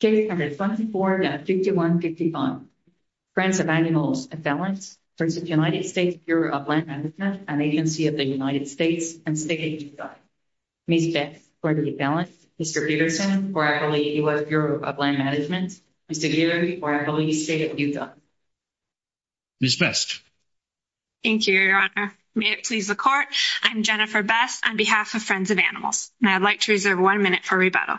Case number 24-5155. Friends of Animals v. United States Bureau of Land Management, an agency of the United States, and State of Utah. Ms. Best, Court of Appellants. Mr. Peterson, for Appalachian U.S. Bureau of Land Management. Mr. Giller, for Appalachian State of Utah. Ms. Best. Thank you, Your Honor. May it please the Court. I'm Jennifer Best on behalf of Friends of Animals, and I'd like to reserve one minute for rebuttal.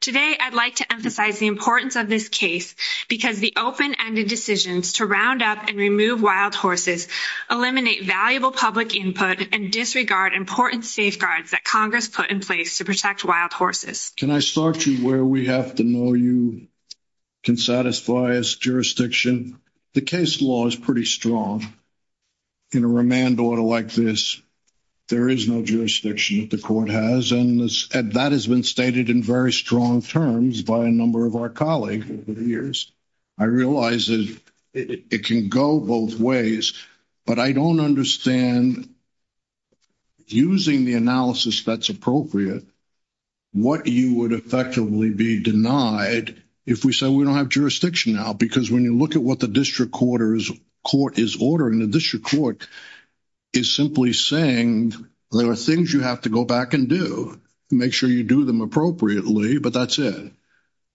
Today, I'd like to emphasize the importance of this case because the open-ended decisions to round up and remove wild horses eliminate valuable public input and disregard important safeguards that Congress put in place to protect wild horses. Can I start you where we have to know you can satisfy us, jurisdiction? The case law is pretty strong. In a remand order like this, there is no jurisdiction that the Court has, and that has been stated in very strong terms by a number of our colleagues over the years. I realize that it can go both ways, but I don't understand, using the analysis that's appropriate, what you would effectively be denied if we said we don't have jurisdiction now, because when you look at what the District Court is ordering, the District Court is simply saying there are things you have to go back and do, make sure you do them appropriately, but that's it.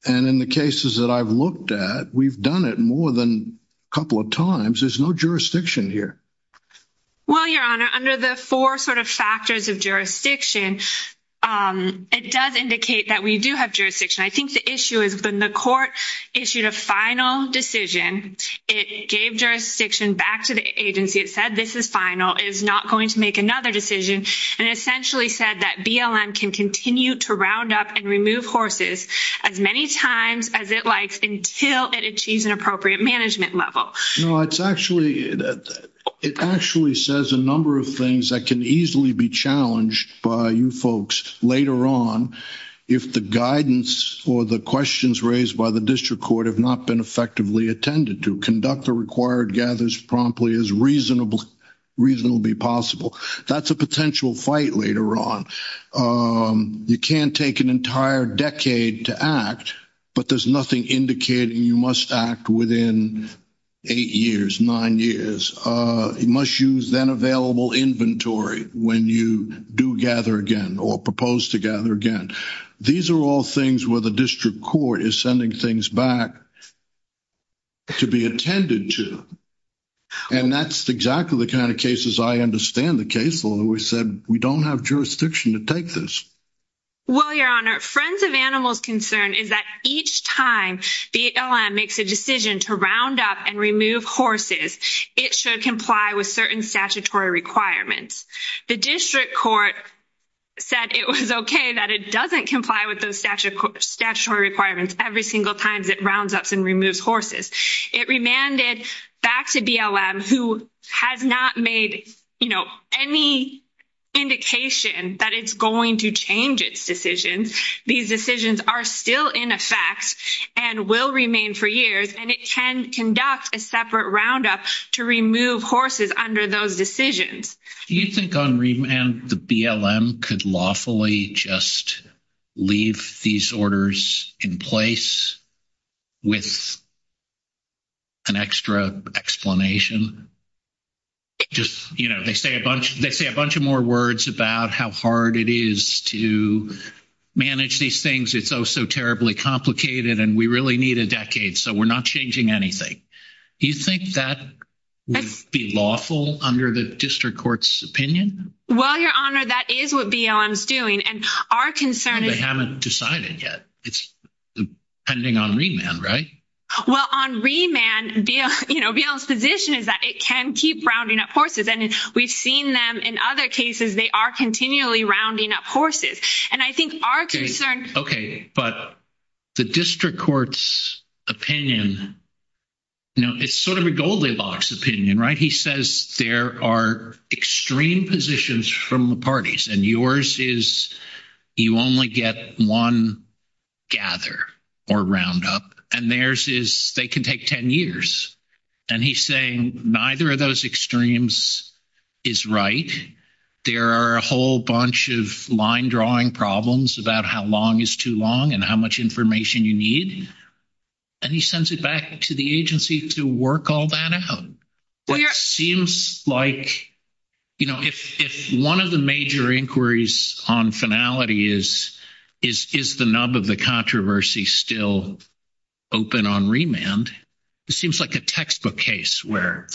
And in the cases that I've looked at, we've done it more than a couple of times. There's no jurisdiction here. Well, Your Honor, under the four sort of factors of jurisdiction, it does indicate that we do have jurisdiction. I think the issue is when the Court issued a final decision, it gave jurisdiction back to the agency. It said, this is final, it's not going to make another decision, and essentially said that BLM can continue to round up and remove horses as many times as it likes until it achieves an appropriate management level. No, it's actually, it actually says a number of things that can easily be challenged by you folks later on. If the guidance or the questions raised by the District Court have not been effectively attended to, conduct the required gathers promptly as reasonably possible. That's a potential fight later on. You can't take an entire decade to act, but there's nothing indicating you must act within eight years, nine years. You must use then available inventory when you do gather again or propose to gather again. These are all things where the District Court is sending things back to be attended to, and that's exactly the kind of cases I understand the case, although we said we don't have jurisdiction to take this. Well, Your Honor, Friends of Animals' concern is that each time BLM makes a decision to round up and remove horses, it should comply with certain statutory requirements. The District Court said it was okay that it doesn't comply with those statutory requirements every single time it rounds up and removes horses. It remanded back to BLM, who has not made any indication that it's going to change its decisions. These decisions are still in effect and will remain for years, and it can conduct a separate roundup to remove horses under those decisions. Do you think on remand, the BLM could lawfully just leave these orders in place with an extra explanation? Just, you know, they say a bunch of more words about how hard it is to manage these things. It's oh, so terribly complicated, and we really need a decade, so we're not changing anything. Do you think that would be lawful under the District Court's opinion? Well, Your Honor, that is what BLM's doing, and our concern is- They haven't decided yet. It's pending on remand, right? Well, on remand, BLM's position is that it can keep rounding up horses, and we've seen them in other cases. They are continually rounding up horses, and I think our concern- Okay, but the District Court's opinion, you know, it's sort of a Goldilocks opinion, right? He says there are extreme positions from the parties, and yours is you only get one gather or round up, and theirs is they can take 10 years. And he's saying neither of those extremes is right. There are a whole bunch of line drawing problems about how long is too long and how much information you need, and he sends it back to the agency to work all that out. It seems like, you know, if one of the major inquiries on finality is, is the nub of the controversy still open on remand, it seems like a textbook case where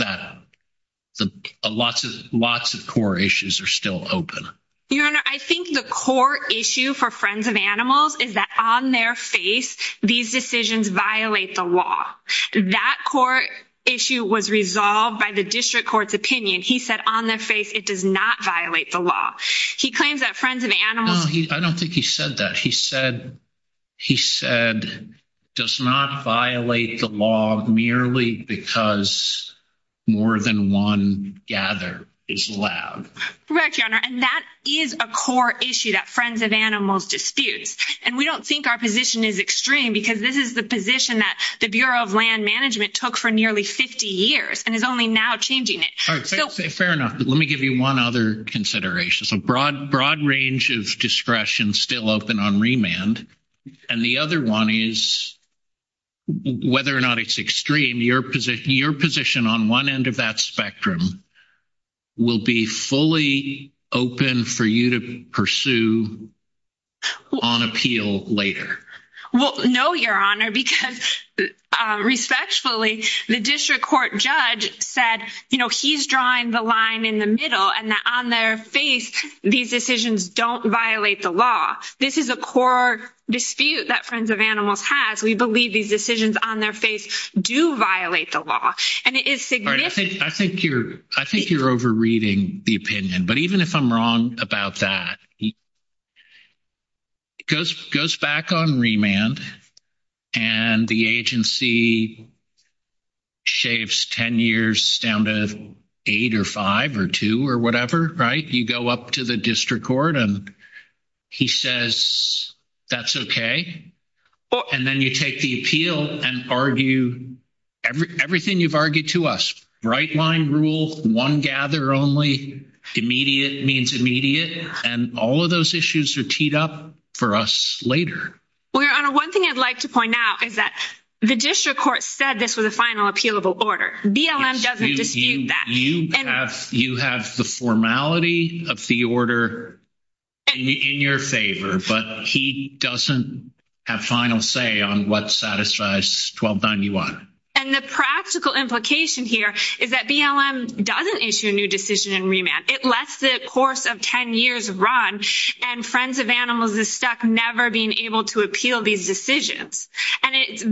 lots of core issues are still open. Your Honor, I think the core issue for Friends of Animals is that on their face, these decisions violate the law. That core issue was resolved by the District Court's opinion. He said on their face, it does not violate the law. He claims that Friends of Animals- No, I don't think he said that. He said, he said, does not violate the law merely because more than one gather is allowed. Correct, Your Honor, and that is a core issue that Friends of Animals disputes, and we don't think our position is extreme because this is the position that the Bureau of Land Management took for nearly 50 years and is only now changing it. Fair enough, but let me give you one other consideration. So broad, broad range of discretion still open on remand. And the other one is whether or not it's extreme, your position, your position on one end of that spectrum will be fully open for you to pursue on appeal later. Well, no, Your Honor, because respectfully, the District Court judge said, you know, he's drawing the line in the middle and that on their face, these decisions don't violate the law. This is a core dispute that Friends of Animals has. We believe these decisions on their face do violate the law. And it is significant. I think you're over reading the opinion, but even if I'm wrong about that, it goes back on remand and the agency shaves 10 years down to 8 or 5 or 2 or whatever, right? You go up to the District Court and he says, that's okay. And then you take the appeal and argue everything you've argued to us, right line rule, one gather only, immediate means immediate. And all of those issues are teed up for us later. Well, Your Honor, one thing I'd like to point out is that the District Court said this was a final appealable order. BLM doesn't dispute that. You have the formality of the order in your favor, but he doesn't have final say on what satisfies 1291. And the practical implication here is that BLM doesn't issue a new decision in remand. It lets the course of 10 years run and Friends of Animals is stuck never being able to appeal these decisions. And it's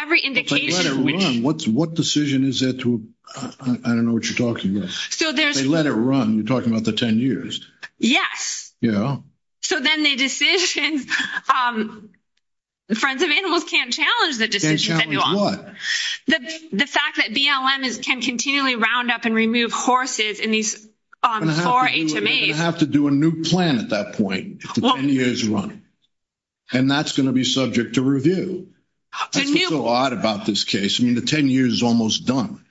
every indication, what's what decision is it to? I don't know what you're talking about. So they let it run. You're talking about the 10 years. Yes. Yeah. So, then the decisions, the Friends of Animals can't challenge the decision. The fact that BLM is can continually round up and remove horses in these 4 HMAs have to do a new plan at that point. It's a 10 years run and that's going to be subject to review. That's what's so odd about this case. I mean, the 10 years is almost done.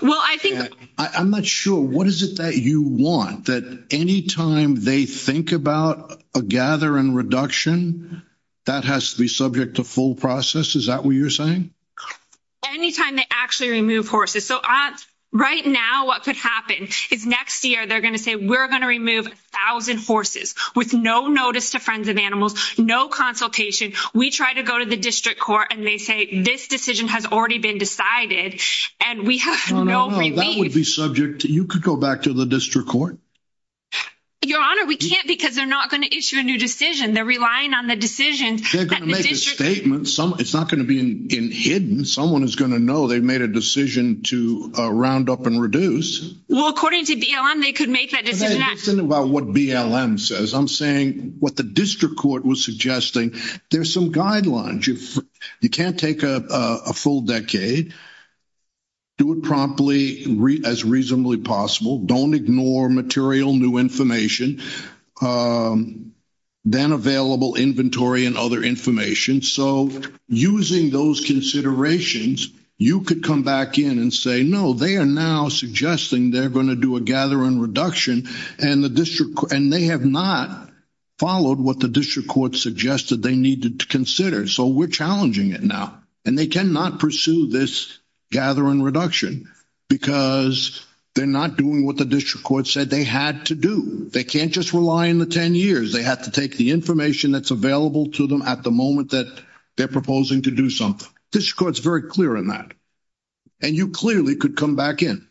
Well, I think I'm not sure what is it that you want that anytime they think about a gather and reduction that has to be subject to full process. Is that what you're saying? Anytime they actually remove horses, so right now, what could happen is next year, they're going to say, we're going to remove 1000 horses with no notice to Friends of Animals. No consultation. We try to go to the district court and they say, this decision has already been decided and we have no, that would be subject to. You could go back to the district court. Your honor, we can't because they're not going to issue a new decision. They're relying on the decision statement. Some, it's not going to be in hidden. Someone is going to know they made a decision to round up and reduce. Well, according to BLM, they could make that decision about what BLM says. I'm saying what the district court was suggesting. There's some guidelines. You can't take a full decade. Do it promptly as reasonably possible. Don't ignore material new information. Then available inventory and other information. So using those considerations, you could come back in and say, no, they are now suggesting they're going to do a gather and reduction and the district and they have not followed what the district court suggested they needed to consider. So we're challenging it now and they cannot pursue this. Gathering reduction, because they're not doing what the district court said they had to do. They can't just rely on the 10 years. They have to take the information that's available to them at the moment that they're proposing to do something. This court's very clear on that. And you clearly could come back in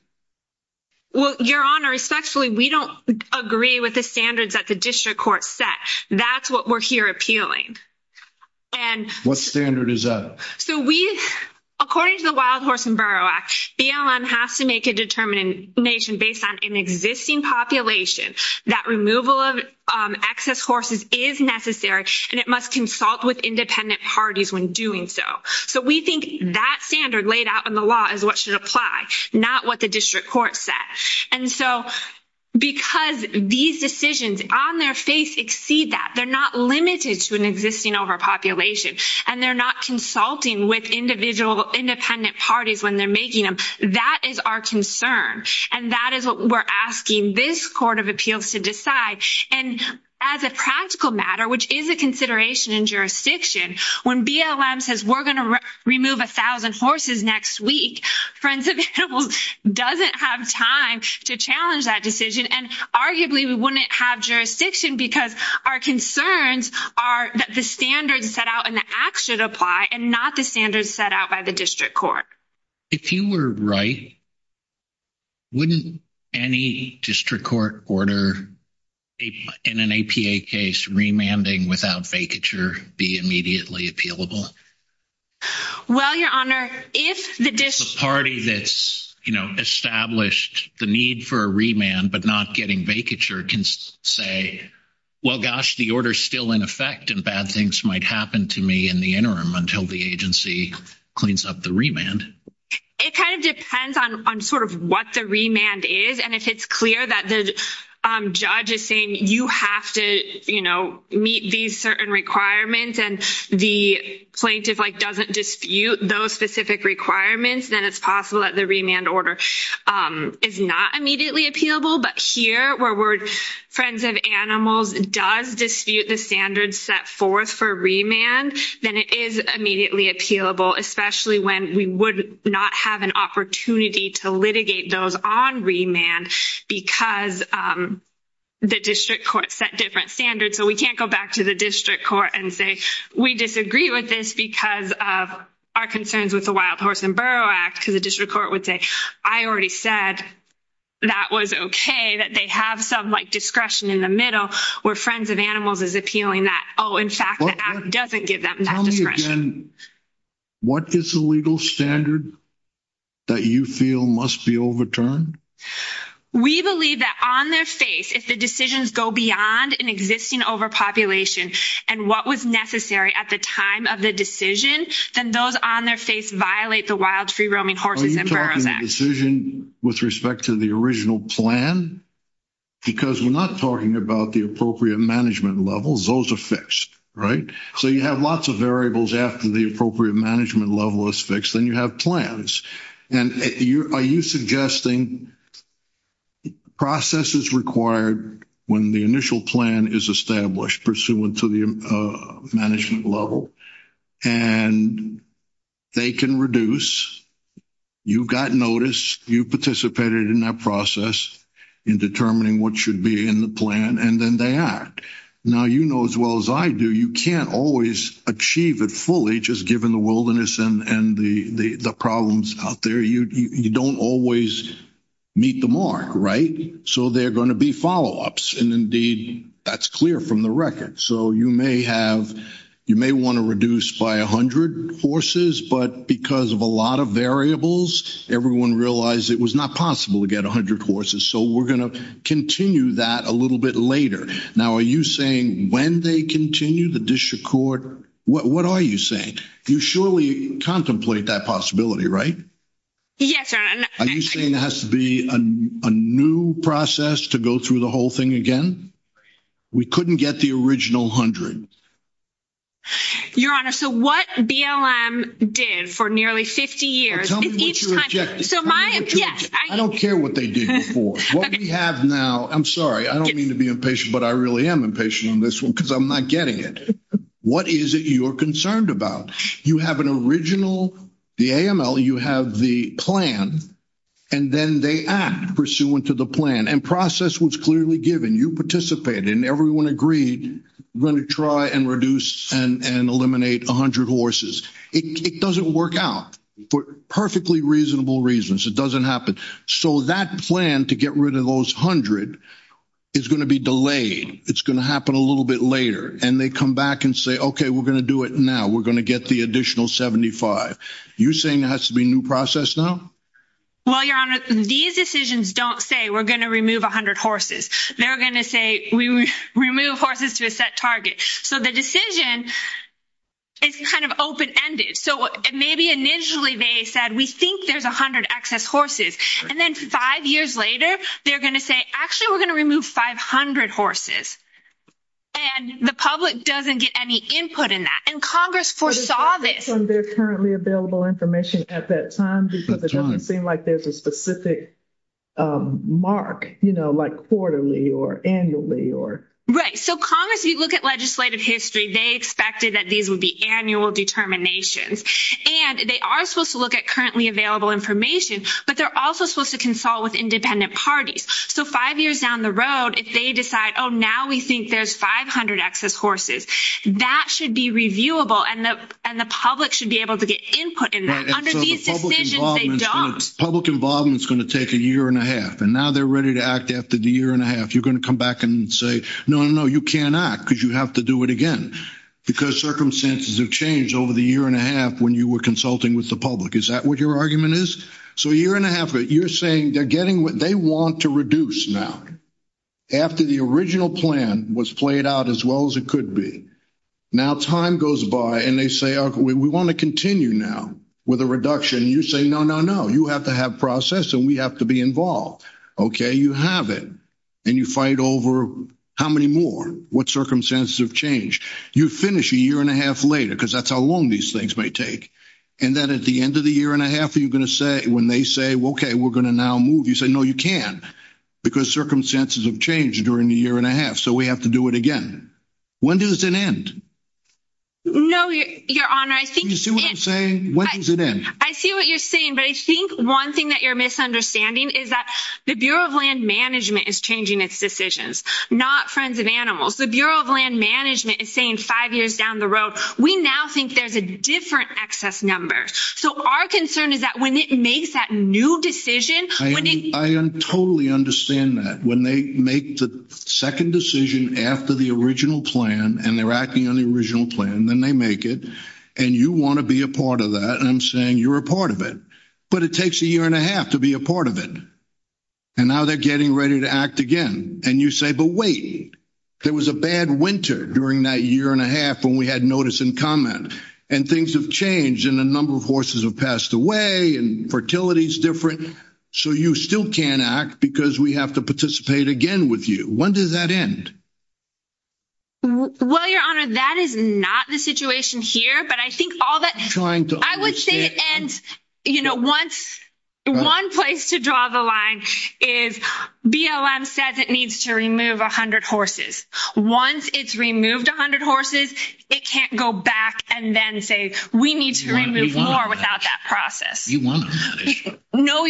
your honor. Respectfully. We don't agree with the standards that the district court set. That's what we're here appealing. And what standard is that? So we, according to the wild horse and burrow act, BLM has to make a determination based on an existing population that removal of excess horses is necessary and it must consult with independent parties when doing so. So we think that standard laid out in the law is what should apply, not what the district court said. And so, because these decisions on their face exceed that, they're not limited to an existing overpopulation and they're not consulting with individual independent parties when they're making them. That is our concern. And that is what we're asking this court of appeals to decide. And as a practical matter, which is a consideration in jurisdiction, when BLM says we're going to remove a thousand horses next week, Friends of Animals doesn't have time to challenge that decision. And arguably, we wouldn't have jurisdiction because our concerns are that the standards set out in the act should apply and not the standards set out by the district court. If you were right, wouldn't any district court order in an APA case remanding without vacature be immediately appealable? Well, your honor, if the party that's established the need for a remand, but not getting vacature can say, well, gosh, the order is still in effect and bad things might happen to me in the interim until the agency cleans up the remand. It kind of depends on sort of what the remand is. And if it's clear that the judge is saying you have to meet these certain requirements, and the plaintiff doesn't dispute those specific requirements, then it's possible that the remand order is not immediately appealable. But here, where we're Friends of Animals does dispute the standards set forth for remand, then it is immediately appealable, especially when we would not have an opportunity to litigate those on remand because the district court set different standards. So we can't go back to the district court and say, we disagree with this because of our concerns with the Wild Horse and Burrow Act, because the district court would say, I already said that was okay, that they have some discretion in the middle where Friends of Animals is appealing that. Oh, in fact, the act doesn't give them discretion. What is the legal standard that you feel must be overturned? We believe that on their face, if the decisions go beyond an existing overpopulation, and what was necessary at the time of the decision, then those on their face violate the Wild Free Roaming Horses and Burrows Act. Are you talking about the decision with respect to the original plan? Because we're not talking about the appropriate management levels, those are fixed, right? So you have lots of variables after the appropriate management level is fixed, then you have plans. And are you suggesting processes required when the initial plan is established pursuant to the management level, and they can reduce, you've gotten notice, you participated in that process in determining what should be in the plan, and then they act. Now, you know as well as I do, you can't always achieve it fully just given the wilderness and the problems out there. You don't always meet the mark, right? So they're going to be follow ups. And indeed, that's clear from the record. So you may have, you may want to reduce by 100 horses, but because of a lot of variables, everyone realized it was not possible to get 100 horses. So we're going to continue that a little bit later. Now, are you saying when they continue the discharge court, what are you saying? You surely contemplate that possibility, right? Yes, I'm saying it has to be a new process to go through the whole thing again. We couldn't get the original 100. Your honor, so what BLM did for nearly 50 years each time. So my I don't care what they did before what we have now. I'm sorry. I don't mean to be impatient, but I really am impatient on this one because I'm not getting it. What is it you're concerned about? You have an original, the AML, you have the plan and then they act pursuant to the plan and process was clearly given you participate in everyone agreed. We're going to try and reduce and eliminate 100 horses. It doesn't work out for perfectly reasonable reasons. It doesn't happen. So that plan to get rid of those 100 is going to be delayed. It's going to happen a little bit later and they come back and say, okay, we're going to do it. Now. We're going to get the additional 75. you're saying it has to be new process now. Well, your honor, these decisions don't say, we're going to remove 100 horses. They're going to say, we remove horses to a set target. So the decision. It's kind of open ended, so maybe initially they said, we think there's 100 access horses and then 5 years later, they're going to say, actually, we're going to remove 500 horses. And the public doesn't get any input in that and Congress foresaw this and they're currently available information at that time because it doesn't seem like there's a specific. Mark, you know, like, quarterly or annually or right? So, Congress, you look at legislative history, they expected that these would be annual determinations and they are supposed to look at currently available information, but they're also supposed to consult with independent parties. So, 5 years down the road, if they decide, oh, now we think there's 500 access horses that should be reviewable and the public should be able to get input in that. Public involvement is going to take a year and a half and now they're ready to act after the year and a half. You're going to come back and say, no, no, you can't act because you have to do it again. Because circumstances have changed over the year and a half when you were consulting with the public. Is that what your argument is? So, a year and a half, you're saying they're getting what they want to reduce now. After the original plan was played out as well as it could be. Now, time goes by and they say, we want to continue now with a reduction. You say, no, no, no, you have to have process and we have to be involved. Okay. You have it. And you fight over how many more what circumstances have changed. You finish a year and a half later, because that's how long these things may take. And then at the end of the year and a half, you're going to say when they say, okay, we're going to now move. You say, no, you can't because circumstances have changed during the year and a half. So we have to do it again. When does it end? No, your honor, I think you see what I'm saying. When does it end? I see what you're saying. But I think 1 thing that you're misunderstanding is that the Bureau of land management is changing its decisions, not friends of animals. The Bureau of land management is saying 5 years down the road. We now think there's a different excess number. So our concern is that when it makes that new decision, I totally understand that when they make the 2nd decision after the original plan, and they're acting on the original plan, then they make it and you want to be a part of that. And I'm saying you're a part of it, but it takes a year and a half to be a part of it. And now they're getting ready to act again and you say, but wait, there was a bad winter during that year and a half when we had notice and comment and things have changed and a number of horses have passed away and fertility is different. So you still can't act because we have to participate again with you. When does that end? Well, your honor, that is not the situation here, but I think all that I would say, and, you know, once. 1 place to draw the line is BLM says it needs to remove 100 horses. Once it's removed 100 horses, it can't go back and then say, we need to remove more without that process. No,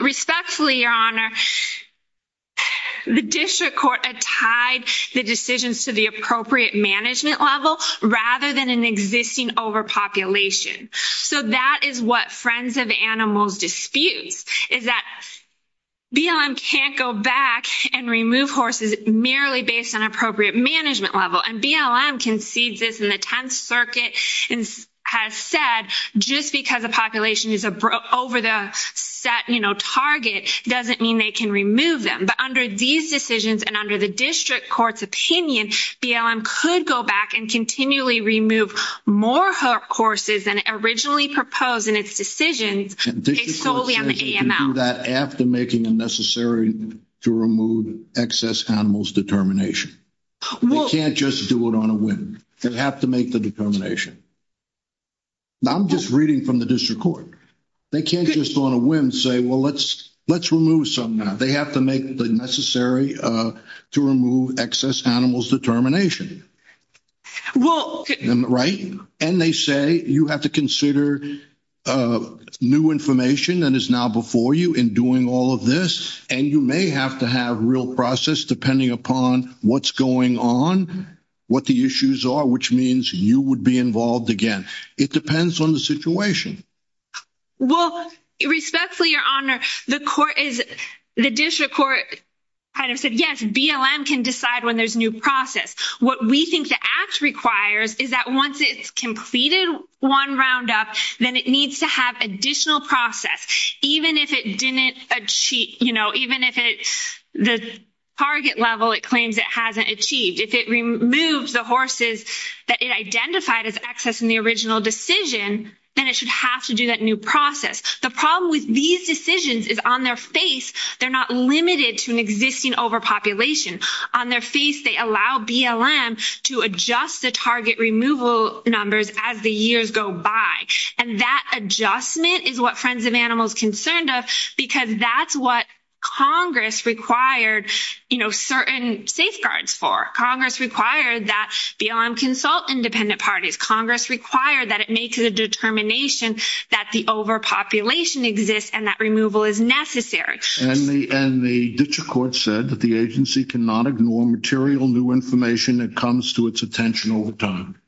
respectfully. Your honor. The district court tied the decisions to the appropriate management level, rather than an existing overpopulation. So that is what friends of animals disputes is that. BLM can't go back and remove horses merely based on appropriate management level and BLM concedes this in the 10th circuit and has said, just because the population is over the set target. Doesn't mean they can remove them, but under these decisions, and under the district court's opinion, BLM could go back and continually remove more horses than originally proposed in its decisions solely on the AML. That after making a necessary to remove excess animals determination. Well, you can't just do it on a win. You have to make the determination. I'm just reading from the district court. They can't just on a whim say, well, let's, let's remove some now they have to make the necessary to remove excess animals determination. Well, right and they say you have to consider. New information that is now before you in doing all of this, and you may have to have real process, depending upon what's going on. What the issues are, which means you would be involved again. It depends on the situation. Well, respectfully, your honor, the court is the district court. Kind of said, yes, BLM can decide when there's new process. What we think the act requires is that once it's completed 1 round up, then it needs to have additional process. Even if it didn't cheat, even if it's the target level, it claims it hasn't achieved if it removes the horses that it identified as access in the original decision. Then it should have to do that new process. The problem with these decisions is on their face. They're not limited to an existing overpopulation on their face. They allow BLM to adjust the target removal numbers as the years go by. And that adjustment is what friends of animals concerned because that's what. Congress required certain safeguards for Congress required that BLM consult independent parties. Congress required that it makes a determination that the overpopulation exists and that removal is necessary. And the district court said that the agency cannot ignore material new information that comes to its attention over time.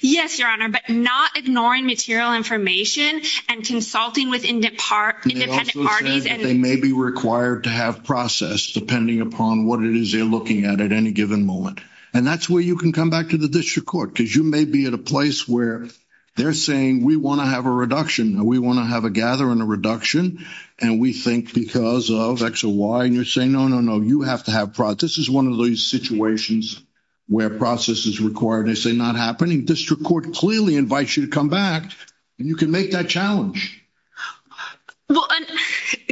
Yes, your honor, but not ignoring material information and consulting with independent parties. They may be required to have process, depending upon what it is they're looking at at any given moment. And that's where you can come back to the district court because you may be at a place where they're saying we want to have a reduction. We want to have a gather and a reduction. And we think because of X or Y, and you're saying, no, no, no, you have to have process. This is 1 of those situations. Where process is required, they say not happening district court clearly invites you to come back and you can make that challenge. Well,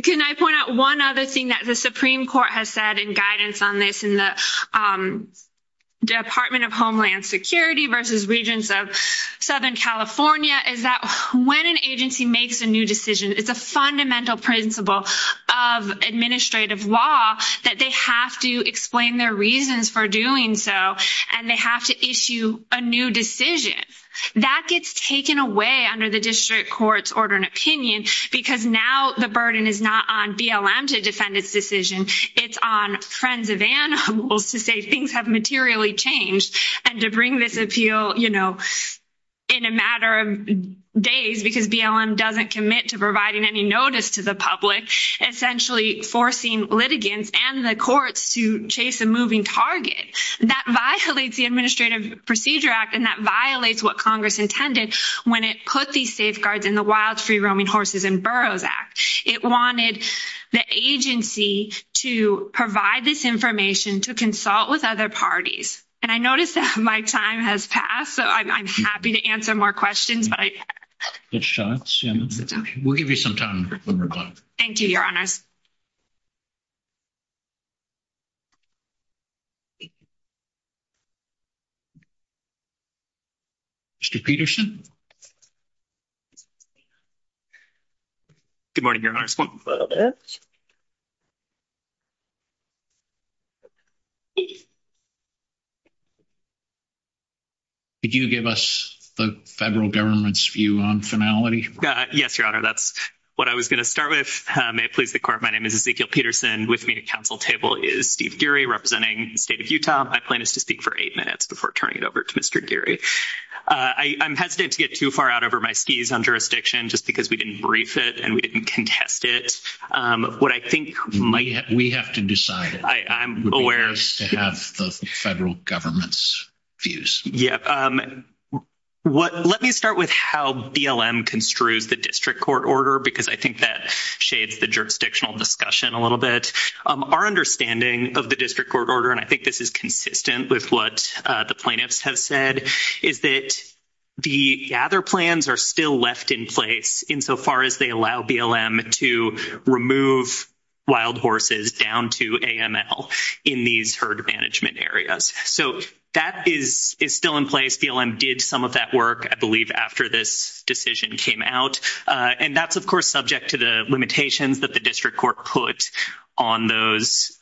can I point out 1 other thing that the Supreme Court has said in guidance on this in the. Department of Homeland security versus regions of Southern California is that when an agency makes a new decision, it's a fundamental principle of administrative law that they have to explain their reasons for doing so. And they have to issue a new decision that gets taken away under the district court's order and opinion, because now the burden is not on BLM to defend its decision. It's on friends of animals to say things have materially changed and to bring this appeal. You know, in a matter of days, because BLM doesn't commit to providing any notice to the public, essentially forcing litigants and the courts to chase a moving target that violates the administrative procedure act. And that violates what Congress intended when it put these safeguards in the wild free roaming horses and boroughs act, it wanted the agency to provide this information to consult with other parties. And I noticed that my time has passed, so I'm happy to answer more questions, but I will give you some time. Thank you. Your honors. Mr. Peterson good morning. Your honors. Did you give us the federal government's view on finality? Yes, your honor. That's what I was going to start with. May it please the court. My name is Ezekiel Peterson with me to council table is Steve Gary representing state of Utah. My plan is to speak for 8 minutes before turning it over to Mr. Gary. I'm hesitant to get too far out over my skis on jurisdiction just because we didn't brief it and we didn't contest it. What I think we have to decide. I'm aware to have the federal government's views. Let me start with how BLM construes the district court order because I think that shades the jurisdictional discussion a little bit our understanding of the district court order. And I think this is consistent with what the plaintiffs have said is that. The other plans are still left in place insofar as they allow BLM to remove wild horses down to in these herd management areas. So that is still in place. BLM did some of that work, I believe, after this decision came out and that's, of course, subject to the limitations that the district court put on those.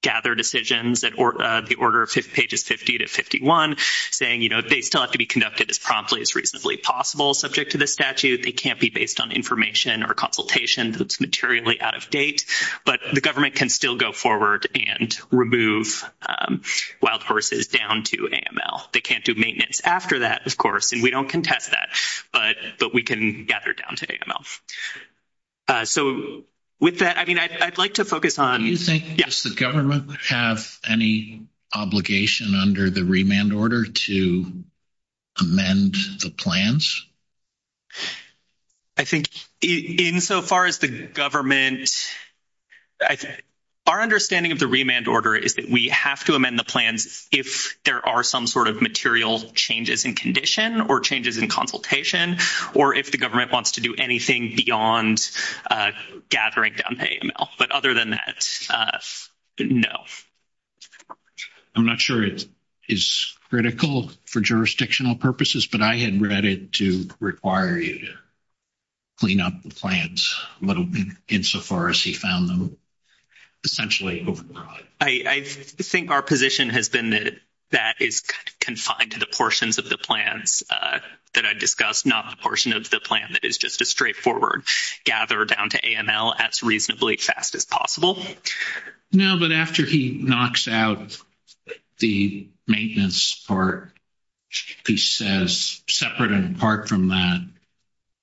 Gather decisions that the order of pages 50 to 51 saying, you know, they still have to be conducted as promptly as reasonably possible subject to the statute. They can't be based on information or consultation that's materially out of date, but the government can still go forward and remove wild horses down to AML. They can't do maintenance after that, of course, and we don't contest that, but we can gather down to AML. So, with that, I mean, I'd like to focus on you think the government have any obligation under the remand order to. Amend the plans, I think insofar as the government. I think our understanding of the remand order is that we have to amend the plans if there are some sort of material changes in condition or changes in consultation, or if the government wants to do anything beyond gathering down to AML. But other than that, no. I'm not sure it is critical for jurisdictional purposes, but I had read it to require you. Clean up the plants, but insofar as he found them. Essentially, I think our position has been that. That is confined to the portions of the plans that I discussed, not the portion of the plan. That is just a straightforward gather down to AML as reasonably fast as possible. No, but after he knocks out the maintenance part. He says separate and apart from that.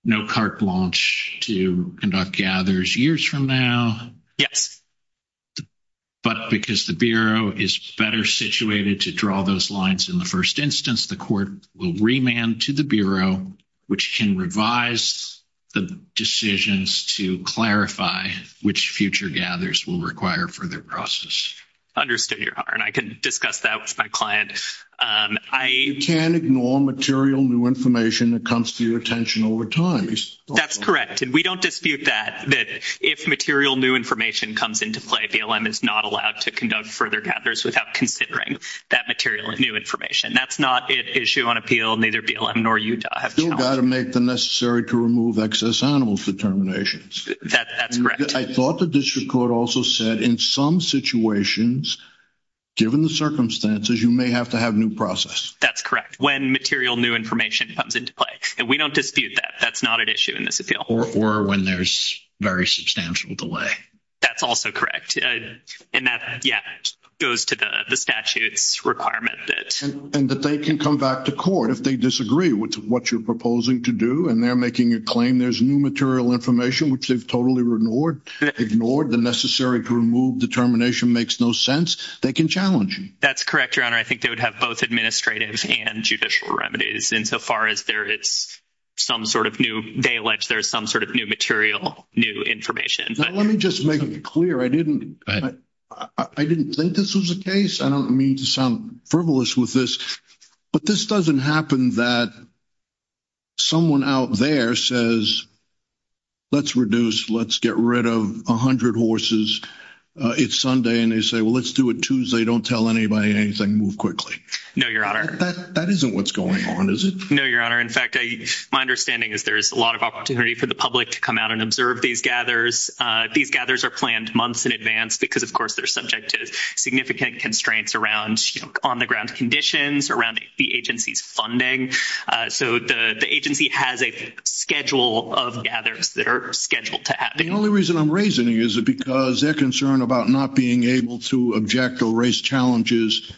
No cart launch to conduct gathers years from now. Yes. But, because the Bureau is better situated to draw those lines in the 1st instance, the court will remand to the Bureau, which can revise the decisions to clarify which future gathers will require for their process. Understood your heart and I can discuss that with my client. I can't ignore material new information that comes to your attention over time. That's correct. And we don't dispute that. That if material new information comes into play, BLM is not allowed to conduct further gathers without considering that material new information. That's not an issue on appeal. Neither BLM nor you have to make the necessary to remove excess animals determinations. That's correct. I thought the district court also said in some situations. Given the circumstances, you may have to have new process. That's correct. When material new information comes into play and we don't dispute that. That's not an issue in this appeal or when there's very substantial delay. That's also correct. And that goes to the statutes requirement. And that they can come back to court if they disagree with what you're proposing to do. And they're making a claim there's new material information, which they've totally ignored. Ignored the necessary to remove determination makes no sense. They can challenge you. That's correct. Your honor. I think they would have both administrative and judicial remedies. Insofar as there is some sort of new, they allege there's some sort of new material, new information. Let me just make it clear. I didn't I didn't think this was a case. I don't mean to sound frivolous with this, but this doesn't happen that. Someone out there says, let's reduce, let's get rid of 100 horses. It's Sunday and they say, well, let's do it Tuesday. Don't tell anybody anything move quickly. No, your honor. That isn't what's going on. Is it? No, your honor. In fact, my understanding is there's a lot of opportunity for the public to come out and observe these gathers. These gathers are planned months in advance because, of course, they're subject to significant constraints around on the ground conditions around the agency's funding. So, the agency has a schedule of gathers that are scheduled to happen. The only reason I'm raising it is because they're concerned about not being able to object or raise challenges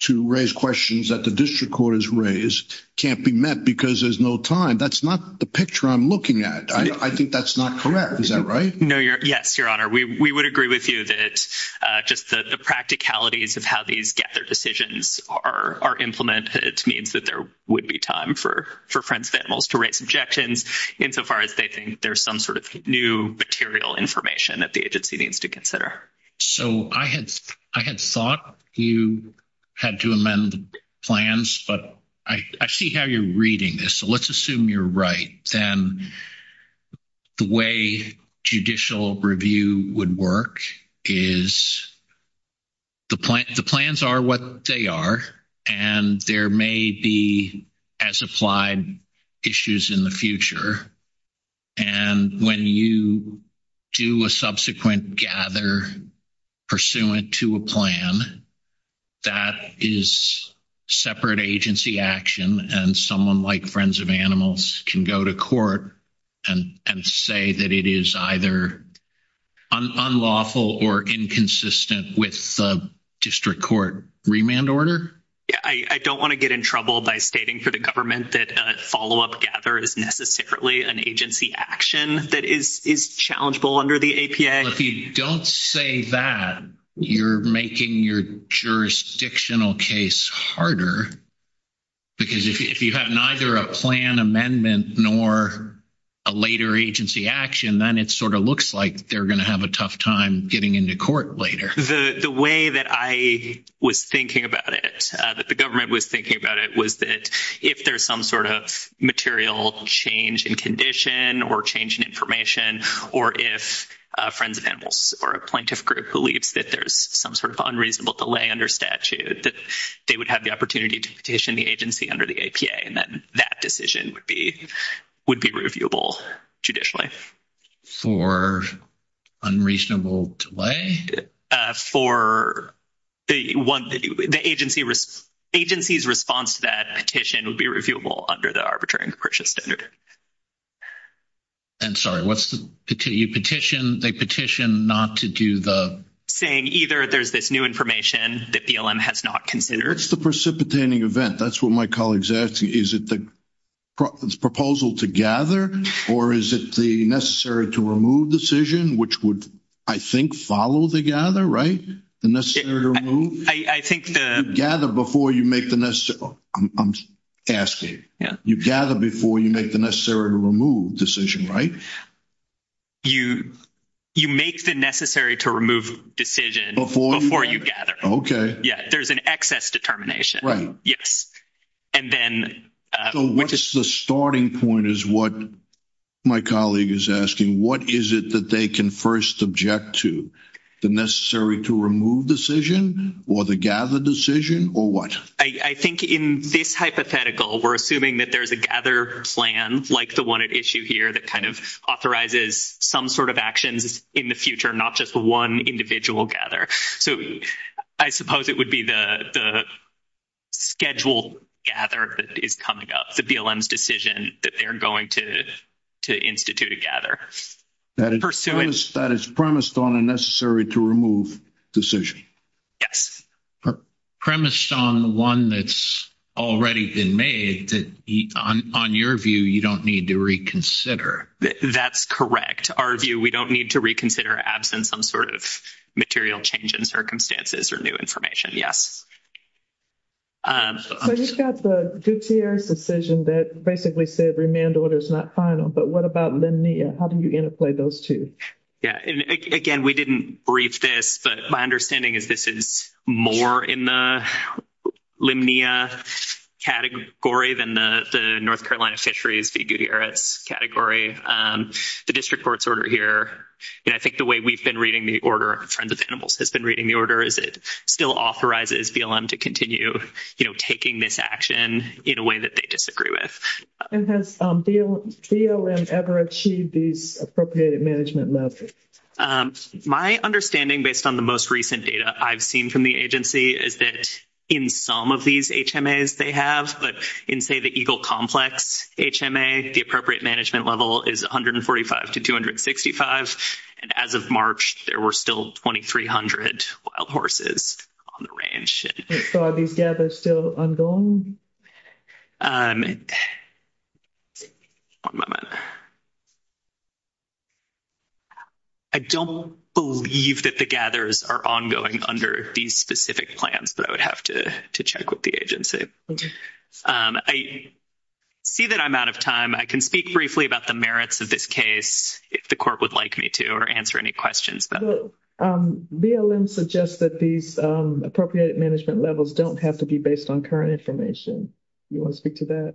to raise questions that the district court has raised can't be met because there's no time. That's not the picture I'm looking at. I think that's not correct. Is that right? No, you're yes, your honor. We would agree with you that just the practicalities of how these get their decisions are implemented. It means that there would be time for for friends, families to raise objections insofar as they think there's some sort of new material information that the agency needs to consider. So, I had, I had thought you had to amend the plans, but I see how you're reading this. So, let's assume you're right. Then the way judicial review would work is. The plans are what they are, and there may be as applied issues in the future. And when you do a subsequent gather. Pursuant to a plan that is. Separate agency action, and someone like friends of animals can go to court. And say that it is either unlawful or inconsistent with the district court remand order. Yeah, I don't want to get in trouble by stating for the government that follow up gather is necessarily an agency action that is is challengeable under the APA. If you don't say that you're making your jurisdictional case harder. Because if you have neither a plan amendment, nor. A later agency action, then it sort of looks like they're going to have a tough time getting into court later. The way that I was thinking about it, that the government was thinking about it was that if there's some sort of material change in condition or change in information, or if friends of animals or a plaintiff group believes that there's some sort of unreasonable delay under statute that they would have the opportunity to go to court. And then they would have the opportunity to petition the agency under the APA, and then that decision would be would be reviewable judicially for unreasonable delay for the agency agency's response to that petition would be reviewable under the arbitration purchase standard. And sorry, what's the petition they petition not to do the saying either. There's this new information that BLM has not considered. It's the precipitating event. That's what my colleagues asking. Is it the. Proposal to gather, or is it the necessary to remove decision, which would, I think, follow the gather right? The necessary to move. I think the gather before you make the necessary. I'm asking you gather before you make the necessary to remove decision, right? You, you make the necessary to remove decision before you gather. Okay. Yeah. There's an excess determination. Right? Yes. And then, so what's the starting point is what. My colleague is asking, what is it that they can 1st object to the necessary to remove decision or the gather decision or what? I think in this hypothetical, we're assuming that there's a gather plan. Like, the 1 issue here that kind of authorizes some sort of actions in the future, not just 1 individual gather. So, I suppose it would be the schedule gather that is coming up the BLM's decision that they're going to. To institute a gather that is premised on a necessary to remove decision. Yes, premise on the 1 that's already been made on your view. You don't need to reconsider. That's correct. Our view. We don't need to reconsider absence. We don't need to reconsider absence in some sort of material change in circumstances or new information. Yes. So, you've got the decision that basically said remand order is not final, but what about how do you interplay those 2? Yeah, and again, we didn't brief this, but my understanding is this is more in the category than the North Carolina fisheries category. The district court's order here, and I think the way we've been reading the order, friends of animals has been reading the order. Is it still authorizes BLM to continue taking this action in a way that they disagree with? And has BLM ever achieved these appropriated management methods? My understanding, based on the most recent data I've seen from the agency, is that in some of these, they have, but in say, the Eagle complex, HMA, the appropriate management level is 145 to 265 and as of March, there were still 2300 wild horses on the ranch. So, are these still ongoing? I don't believe that the gathers are ongoing under these specific plans, but I would have to check with the agency. I see that I'm out of time. I can speak briefly about the merits of this case if the court would like me to or answer any questions. BLM suggests that these appropriate management levels don't have to be based on current information. You want to speak to that?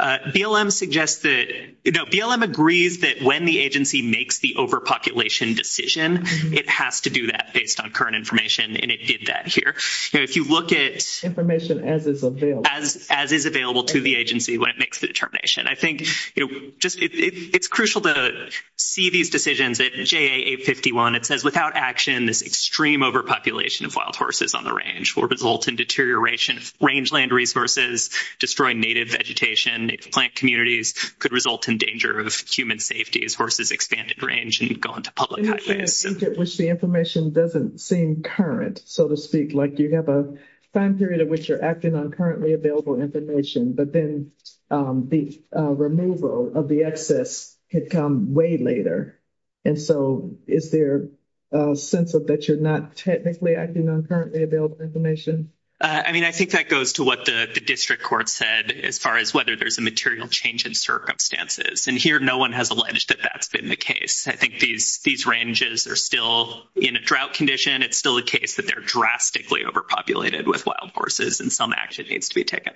BLM suggests that, no, BLM agrees that when the agency makes the overpopulation decision, it has to do that based on current information, and it did that here. If you look at information as is available to the agency when it makes the determination, I think it's crucial to see these decisions at JA 851. It says, without action, this extreme overpopulation of wild horses on the range will result in deterioration of rangeland resources, destroy native vegetation, plant communities, could result in danger of human safety as horses expand in range and go into public highways. I think that the information doesn't seem current, so to speak. Like, you have a time period in which you're acting on currently available information, but then the removal of the excess could come way later. And so, is there a sense that you're not technically acting on currently available information? I mean, I think that goes to what the district court said as far as whether there's a material change in circumstances. And here, no one has alleged that that's been the case. I think these ranges are still in a drought condition. It's still a case that they're drastically overpopulated with wild horses, and some action needs to be taken.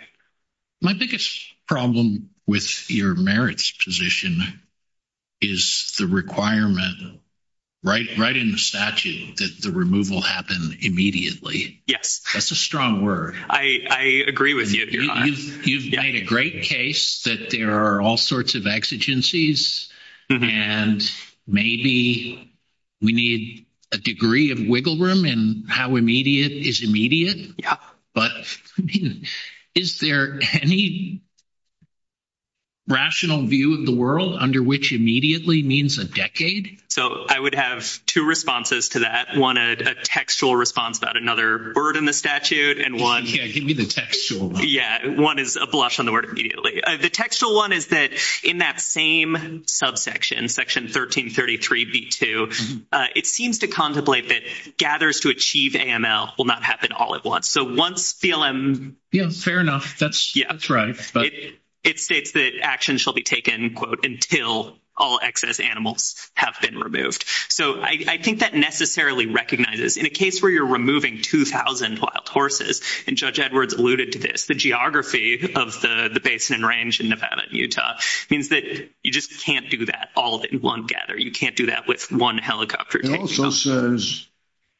My biggest problem with your merits position is the requirement right in the statute that the removal happen immediately. Yes. That's a strong word. I agree with you. You've made a great case that there are all sorts of exigencies, and maybe we need a degree of wiggle room in how immediate is immediate. But is there any rational view of the world under which immediately means a decade? So, I would have two responses to that. One, a textual response about another bird in the statute. Yeah, give me the textual one. One is a blush on the word immediately. The textual one is that in that same subsection, section 1333b2, it seems to contemplate that gathers to achieve AML will not happen all at once. So, once BLM... Yeah, fair enough. That's right. It states that action shall be taken, quote, until all excess animals have been removed. So, I think that necessarily recognizes, in a case where you're removing 2,000 wild horses, and Judge Edwards alluded to this, the geography of the basin and range in Nevada and Utah means that you just can't do that all in one gather. You can't do that with one helicopter. It also says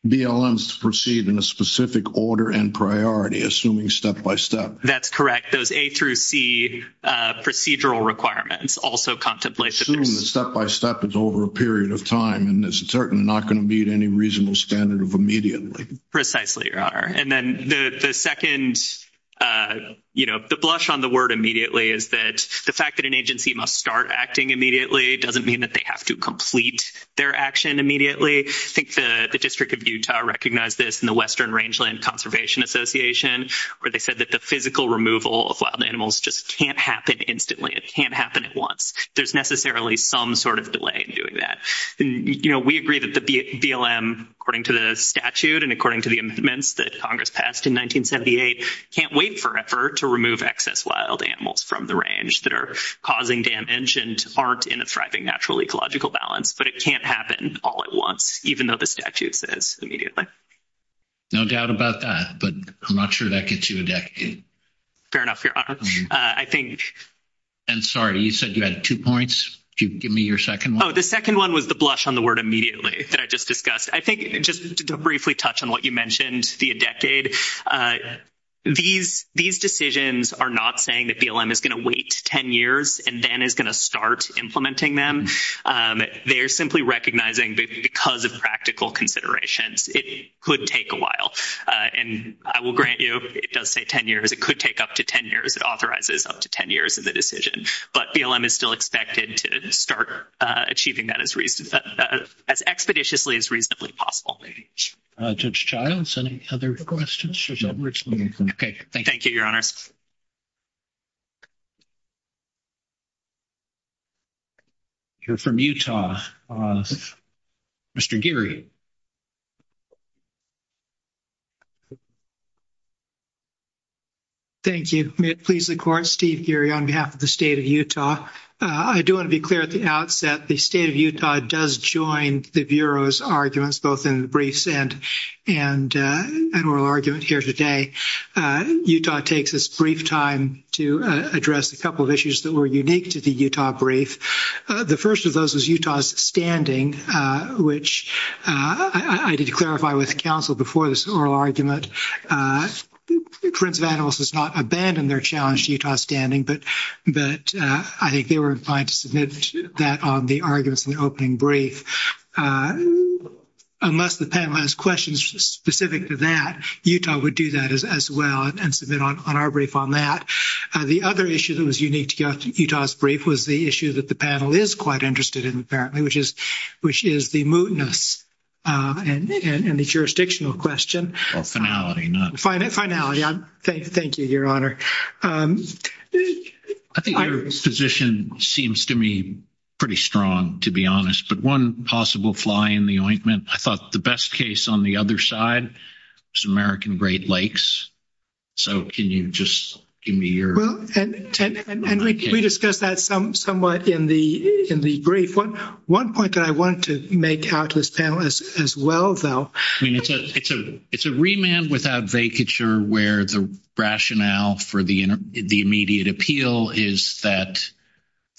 BLM is to proceed in a specific order and priority, assuming step-by-step. That's correct. Those A through C procedural requirements also contemplate that there's... Assume that step-by-step is over a period of time, and it's certainly not going to meet any reasonable standard of immediately. Precisely, Your Honor. And then the second... The blush on the word immediately is that the fact that an agency must start acting immediately doesn't mean that they have to complete their action immediately. I think the District of Utah recognized this in the Western Rangeland Conservation Association, where they said that the physical removal of wild animals just can't happen instantly. It can't happen at once. There's necessarily some sort of delay in doing that. We agree that the BLM, according to the statute and according to the amendments that Congress passed in 1978, can't wait forever to remove excess wild animals from the range that are causing damage and aren't in a thriving natural ecological balance. But it can't happen all at once, even though the statute says immediately. No doubt about that, but I'm not sure that gets you a decade. Fair enough, Your Honor. I think... And sorry, you said you had two points. Could you give me your second one? The second one was the blush on the word immediately that I just discussed. I think just to briefly touch on what you mentioned, the decade. These decisions are not saying that BLM is going to wait 10 years and then is going to start implementing them. They're simply recognizing because of practical considerations, it could take a while. And I will grant you, it does say 10 years. It could take up to 10 years. It authorizes up to 10 years of the decision. But BLM is still expected to start achieving that as expeditiously as reasonably possible. Judge Childs, any other questions? Okay. Thank you, Your Honors. You're from Utah. Mr. Geary. Thank you. It pleases the court, Steve Geary on behalf of the state of Utah. I do want to be clear at the outset, the state of Utah does join the Bureau's arguments, both in briefs and oral argument here today. Utah takes this brief time to address a couple of issues that were unique to the Utah brief. The first of those was Utah's standing, which I did clarify with counsel before this oral argument. The Prince of Animals has not abandoned their challenge to Utah standing, but I think they were inclined to submit that on the arguments in the opening brief. Unless the panel has questions specific to that, Utah would do that as well and submit on our brief on that. The other issue that was unique to Utah's brief was the issue that the panel is quite interested in, apparently, which is the mootness and the jurisdictional question. Well, finality, not mootness. Finality. Thank you, Your Honor. I think your position seems to me pretty strong, to be honest, but one possible fly in the ointment. I thought the best case on the other side was American Great Lakes. So can you just give me your- Well, and we discussed that somewhat in the brief. One point that I want to make out to this panel as well, though- I mean, it's a remand without vacature where the rationale for the immediate appeal is that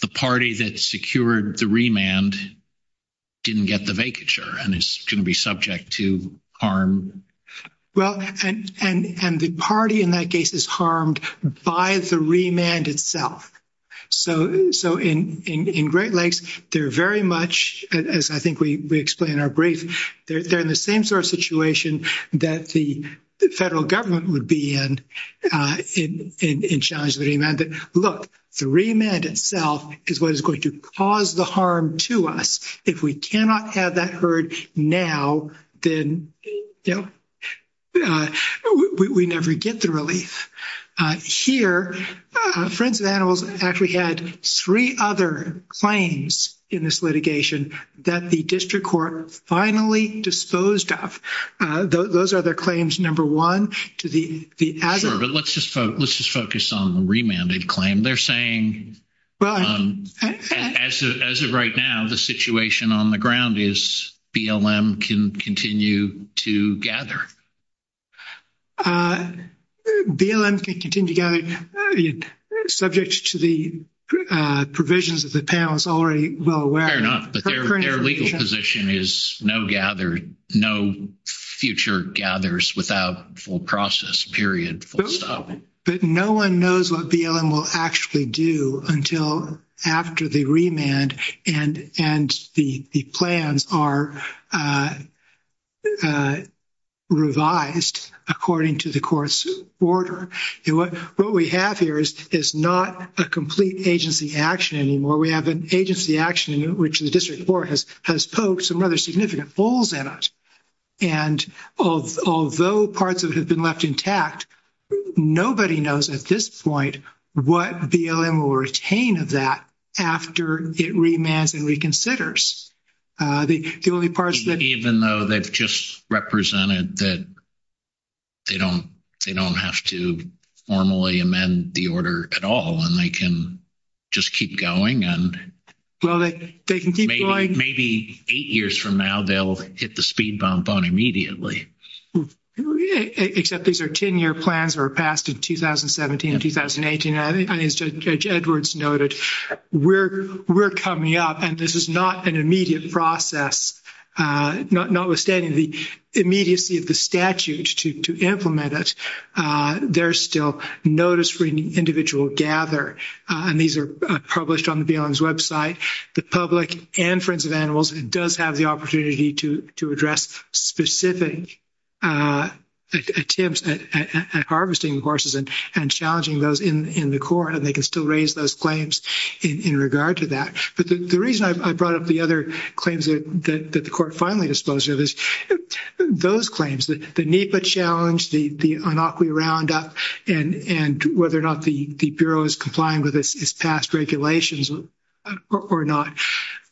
the party that secured the remand didn't get the vacature and is going to be subject to harm. Well, and the party in that case is harmed by the remand itself. So in Great Lakes, they're very much, as I think we explain in our brief, they're in the same sort of situation that the federal government would be in in challenging the Look, the remand itself is what is going to cause the harm to us. If we cannot have that heard now, then we never get the relief. Here, Friends of Animals actually had three other claims in this litigation that the district court finally disposed of. Those are their claims. Number one, to the- Sure, but let's just focus on the remanded claim. They're saying, as of right now, the situation on the ground is BLM can continue to gather. BLM can continue to gather, subject to the provisions of the panel is already well aware. Fair enough, but their legal position is no future gathers without full process, period, full stop. But no one knows what BLM will actually do until after the remand and the plans are revised according to the court's order. What we have here is not a complete agency action anymore. We have an agency action in which the district court has poked some rather significant holes in it, and although parts of it have been left intact, nobody knows at this point what BLM will retain of that after it remands and reconsiders. The only parts that- Even though they've just represented that they don't have to formally amend the order at all, and they can just keep going and- Well, they can keep going- Maybe eight years from now, they'll hit the speed bump on immediately. Except these are 10-year plans that were passed in 2017 and 2018, and as Judge Edwards noted, we're coming up, and this is not an immediate process. Notwithstanding the immediacy of the statute to implement it, there's still notice for individual gather, and these are published on the BLM's website. The public and Friends of Animals does have the opportunity to address specific attempts at harvesting horses and challenging those in the court, and they can still raise those claims in regard to that. But the reason I brought up the other claims that the court finally disposed of is those claims, the NEPA challenge, the Inaqui Roundup, and whether or not the Bureau is complying with its past regulations or not.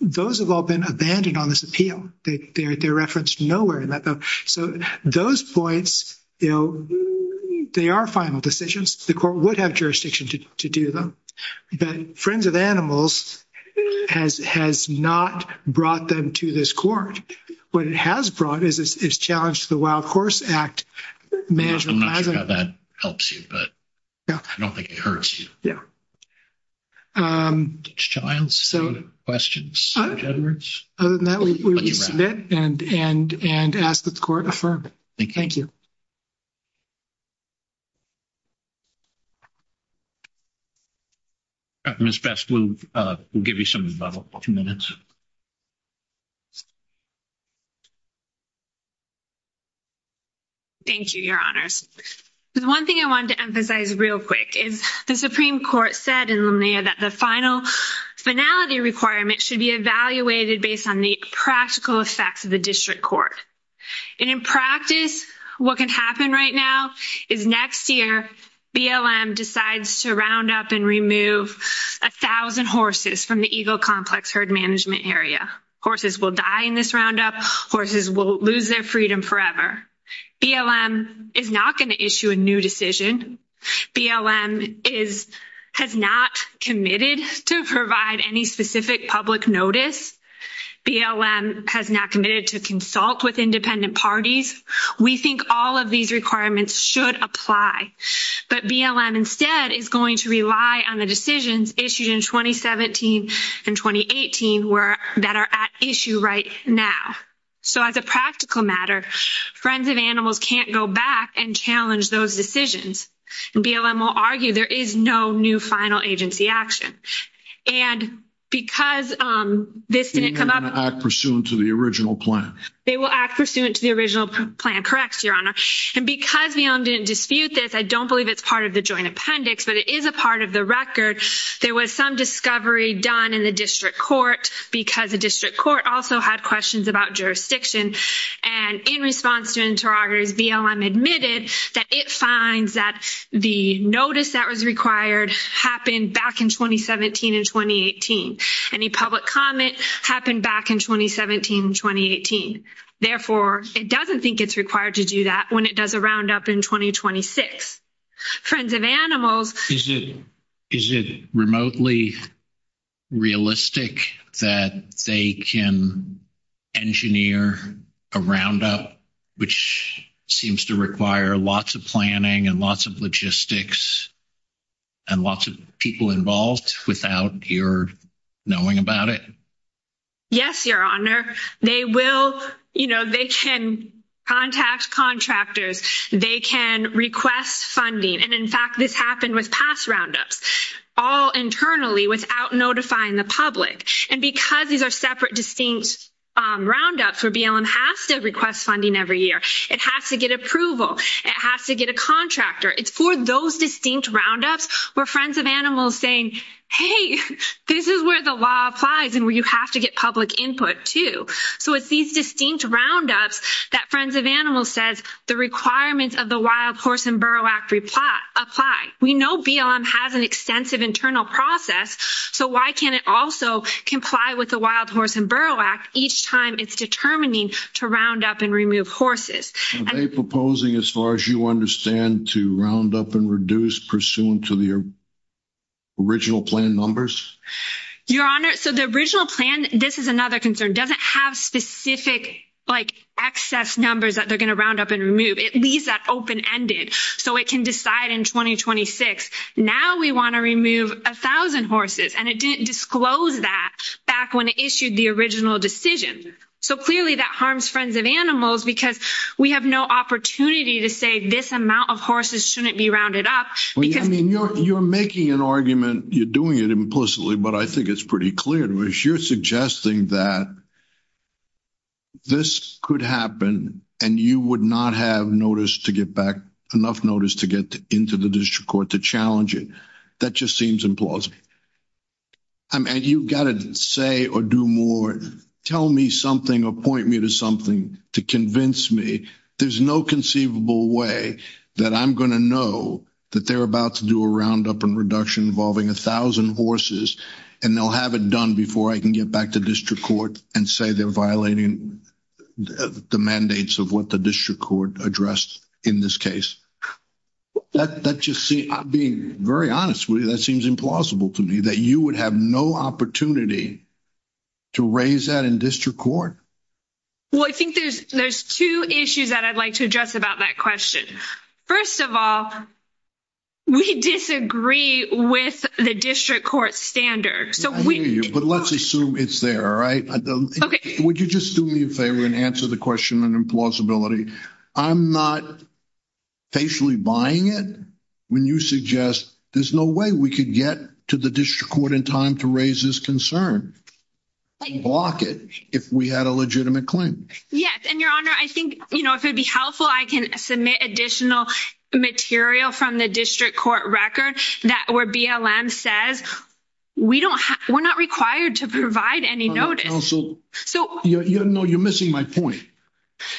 Those have all been abandoned on this appeal. They're referenced nowhere in that bill. So those points, they are final decisions. The court would have jurisdiction to do them, but Friends of Animals has not brought them to this court. What it has brought is its challenge to the Wild Horse Act. I'm not sure how that helps you, but I don't think it hurts you. Judge Childs, any other questions for Judge Edwards? Other than that, we will submit and ask that the court affirm. Thank you. Ms. Best, we'll give you some minutes. Thank you, Your Honors. The one thing I wanted to emphasize real quick is the Supreme Court said in Lumnia that the final finality requirement should be evaluated based on the practical effects of the district court. And in practice, what can happen right now is next year, BLM decides to round up and remove 1,000 horses from the Eagle Complex herd management area. Horses will die in this roundup. Horses will lose their freedom forever. BLM is not going to issue a new decision. BLM has not committed to provide any specific public notice. BLM has not committed to consult with independent parties. We think all of these requirements should apply, but BLM instead is going to rely on decisions issued in 2017 and 2018 that are at issue right now. So, as a practical matter, Friends of Animals can't go back and challenge those decisions. And BLM will argue there is no new final agency action. And because this didn't come up— And they're going to act pursuant to the original plan. They will act pursuant to the original plan, correct, Your Honor. And because BLM didn't dispute this, I don't believe it's part of the joint appendix, but it is a part of the record. There was some discovery done in the district court because the district court also had questions about jurisdiction. And in response to interrogators, BLM admitted that it finds that the notice that was required happened back in 2017 and 2018. Any public comment happened back in 2017 and 2018. Therefore, it doesn't think it's required to do that when it does a roundup in 2026. Friends of Animals— Is it remotely realistic that they can engineer a roundup, which seems to require lots of planning and lots of logistics and lots of people involved without your knowing about it? Yes, Your Honor. They will—you know, they can contact contractors. They can request funding. And in fact, this happened with past roundups, all internally without notifying the public. And because these are separate, distinct roundups where BLM has to request funding every year, it has to get approval. It has to get a contractor. It's for those distinct roundups where Friends of Animals saying, hey, this is where the law applies and where you have to get public input too. So it's these distinct roundups that Friends of Animals says the requirements of the Wild Horse and Burrow Act apply. We know BLM has an extensive internal process. So why can't it also comply with the Wild Horse and Burrow Act each time it's determining to round up and remove horses? Are they proposing, as far as you understand, to round up and reduce pursuant to the original plan numbers? Your Honor, so the original plan—this is another concern—doesn't have specific, like, excess numbers that they're going to round up and remove. It leaves that open-ended so it can decide in 2026, now we want to remove 1,000 horses. And it didn't disclose that back when it issued the original decision. So clearly, that harms Friends of Animals because we have no opportunity to say this amount of horses shouldn't be rounded up because— I mean, you're making an argument. You're doing it implicitly. But I think it's pretty clear to me. You're suggesting that this could happen and you would not have notice to get back—enough notice to get into the district court to challenge it. That just seems implausible. And you've got to say or do more. Tell me something or point me to something to convince me. There's no conceivable way that I'm going to know that they're about to do a roundup and reduction involving 1,000 horses and they'll have it done before I can get back to district court and say they're violating the mandates of what the district court addressed in this case. That just seems—being very honest with you, that seems implausible to me. That you would have no opportunity to raise that in district court? Well, I think there's two issues that I'd like to address about that question. First of all, we disagree with the district court standard. I hear you, but let's assume it's there, all right? Would you just do me a favor and answer the question in plausibility? I'm not facially buying it when you suggest there's no way we could get to the district court in time to raise this concern and block it if we had a legitimate claim. Yes, and your honor, I think, you know, if it'd be helpful, I can submit additional material from the district court record that where BLM says we're not required to provide any notice. Counsel, no, you're missing my point.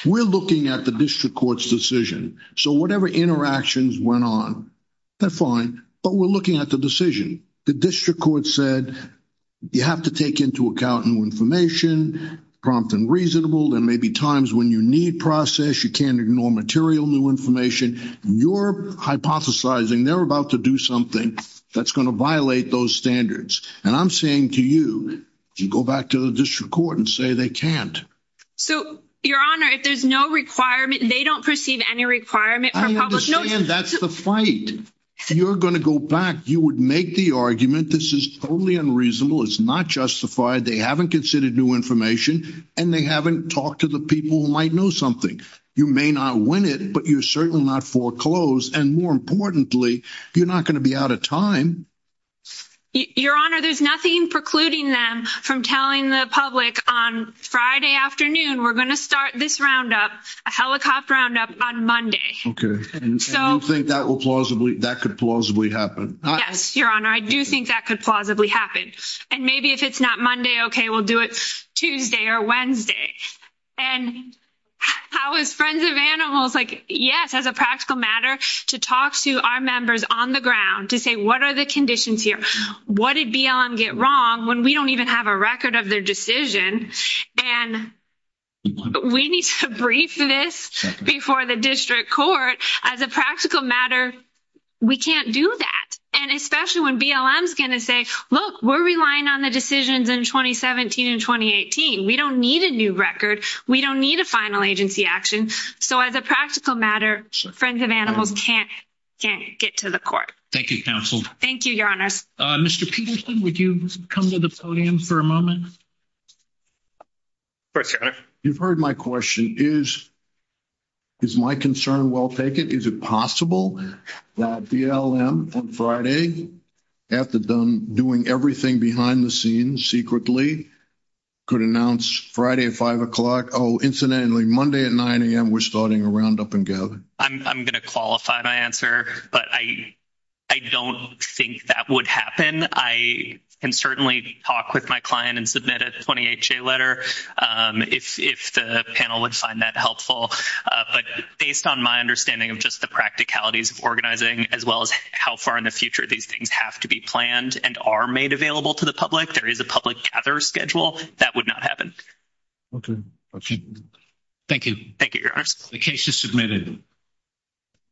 We're looking at the district court's decision. So whatever interactions went on, they're fine, but we're looking at the decision. The district court said you have to take into account new information, prompt and reasonable, and maybe times when you need process, you can't ignore material new information. You're hypothesizing they're about to do something that's going to violate those standards. And I'm saying to you, you go back to the district court and say they can't. So your honor, if there's no requirement, they don't perceive any requirement for public notice. That's the fight. You're going to go back. You would make the argument. This is totally unreasonable. It's not justified. They haven't considered new information, and they haven't talked to the people who might know something. You may not win it, but you're certainly not foreclosed. And more importantly, you're not going to be out of time. Your honor, there's nothing precluding them from telling the public on Friday afternoon, we're going to start this roundup, a helicopter roundup on Monday. Okay, so I think that will plausibly that could plausibly happen. Yes, your honor. I do think that could plausibly happen. And maybe if it's not Monday, okay, we'll do it Tuesday or Wednesday. And how is friends of animals like, yes, as a practical matter to talk to our members on the ground to say, what are the conditions here? What did BLM get wrong when we don't even have a record of their decision? And we need to brief this before the district court as a practical matter. We can't do that. And especially when BLM is going to say, look, we're relying on the decisions in 2017 and 2018. We don't need a new record. We don't need a final agency action. So as a practical matter, friends of animals can't get to the court. Thank you, counsel. Thank you, your honors. Mr. Peterson, would you come to the podium for a moment? You've heard my question is, is my concern well taken? Is it possible that BLM on Friday, after doing everything behind the scenes secretly, could announce Friday at 5 o'clock? Oh, incidentally, Monday at 9 a.m., we're starting a roundup and gathering. I'm going to qualify my answer. But I don't think that would happen. I can certainly talk with my client and submit a 28-J letter if the panel would find that helpful. But based on my understanding of just the practicalities of organizing, as well as how far in the future these things have to be planned and are made available to the public, there is a public gather schedule. That would not happen. Thank you. Thank you, your honors. The case is submitted.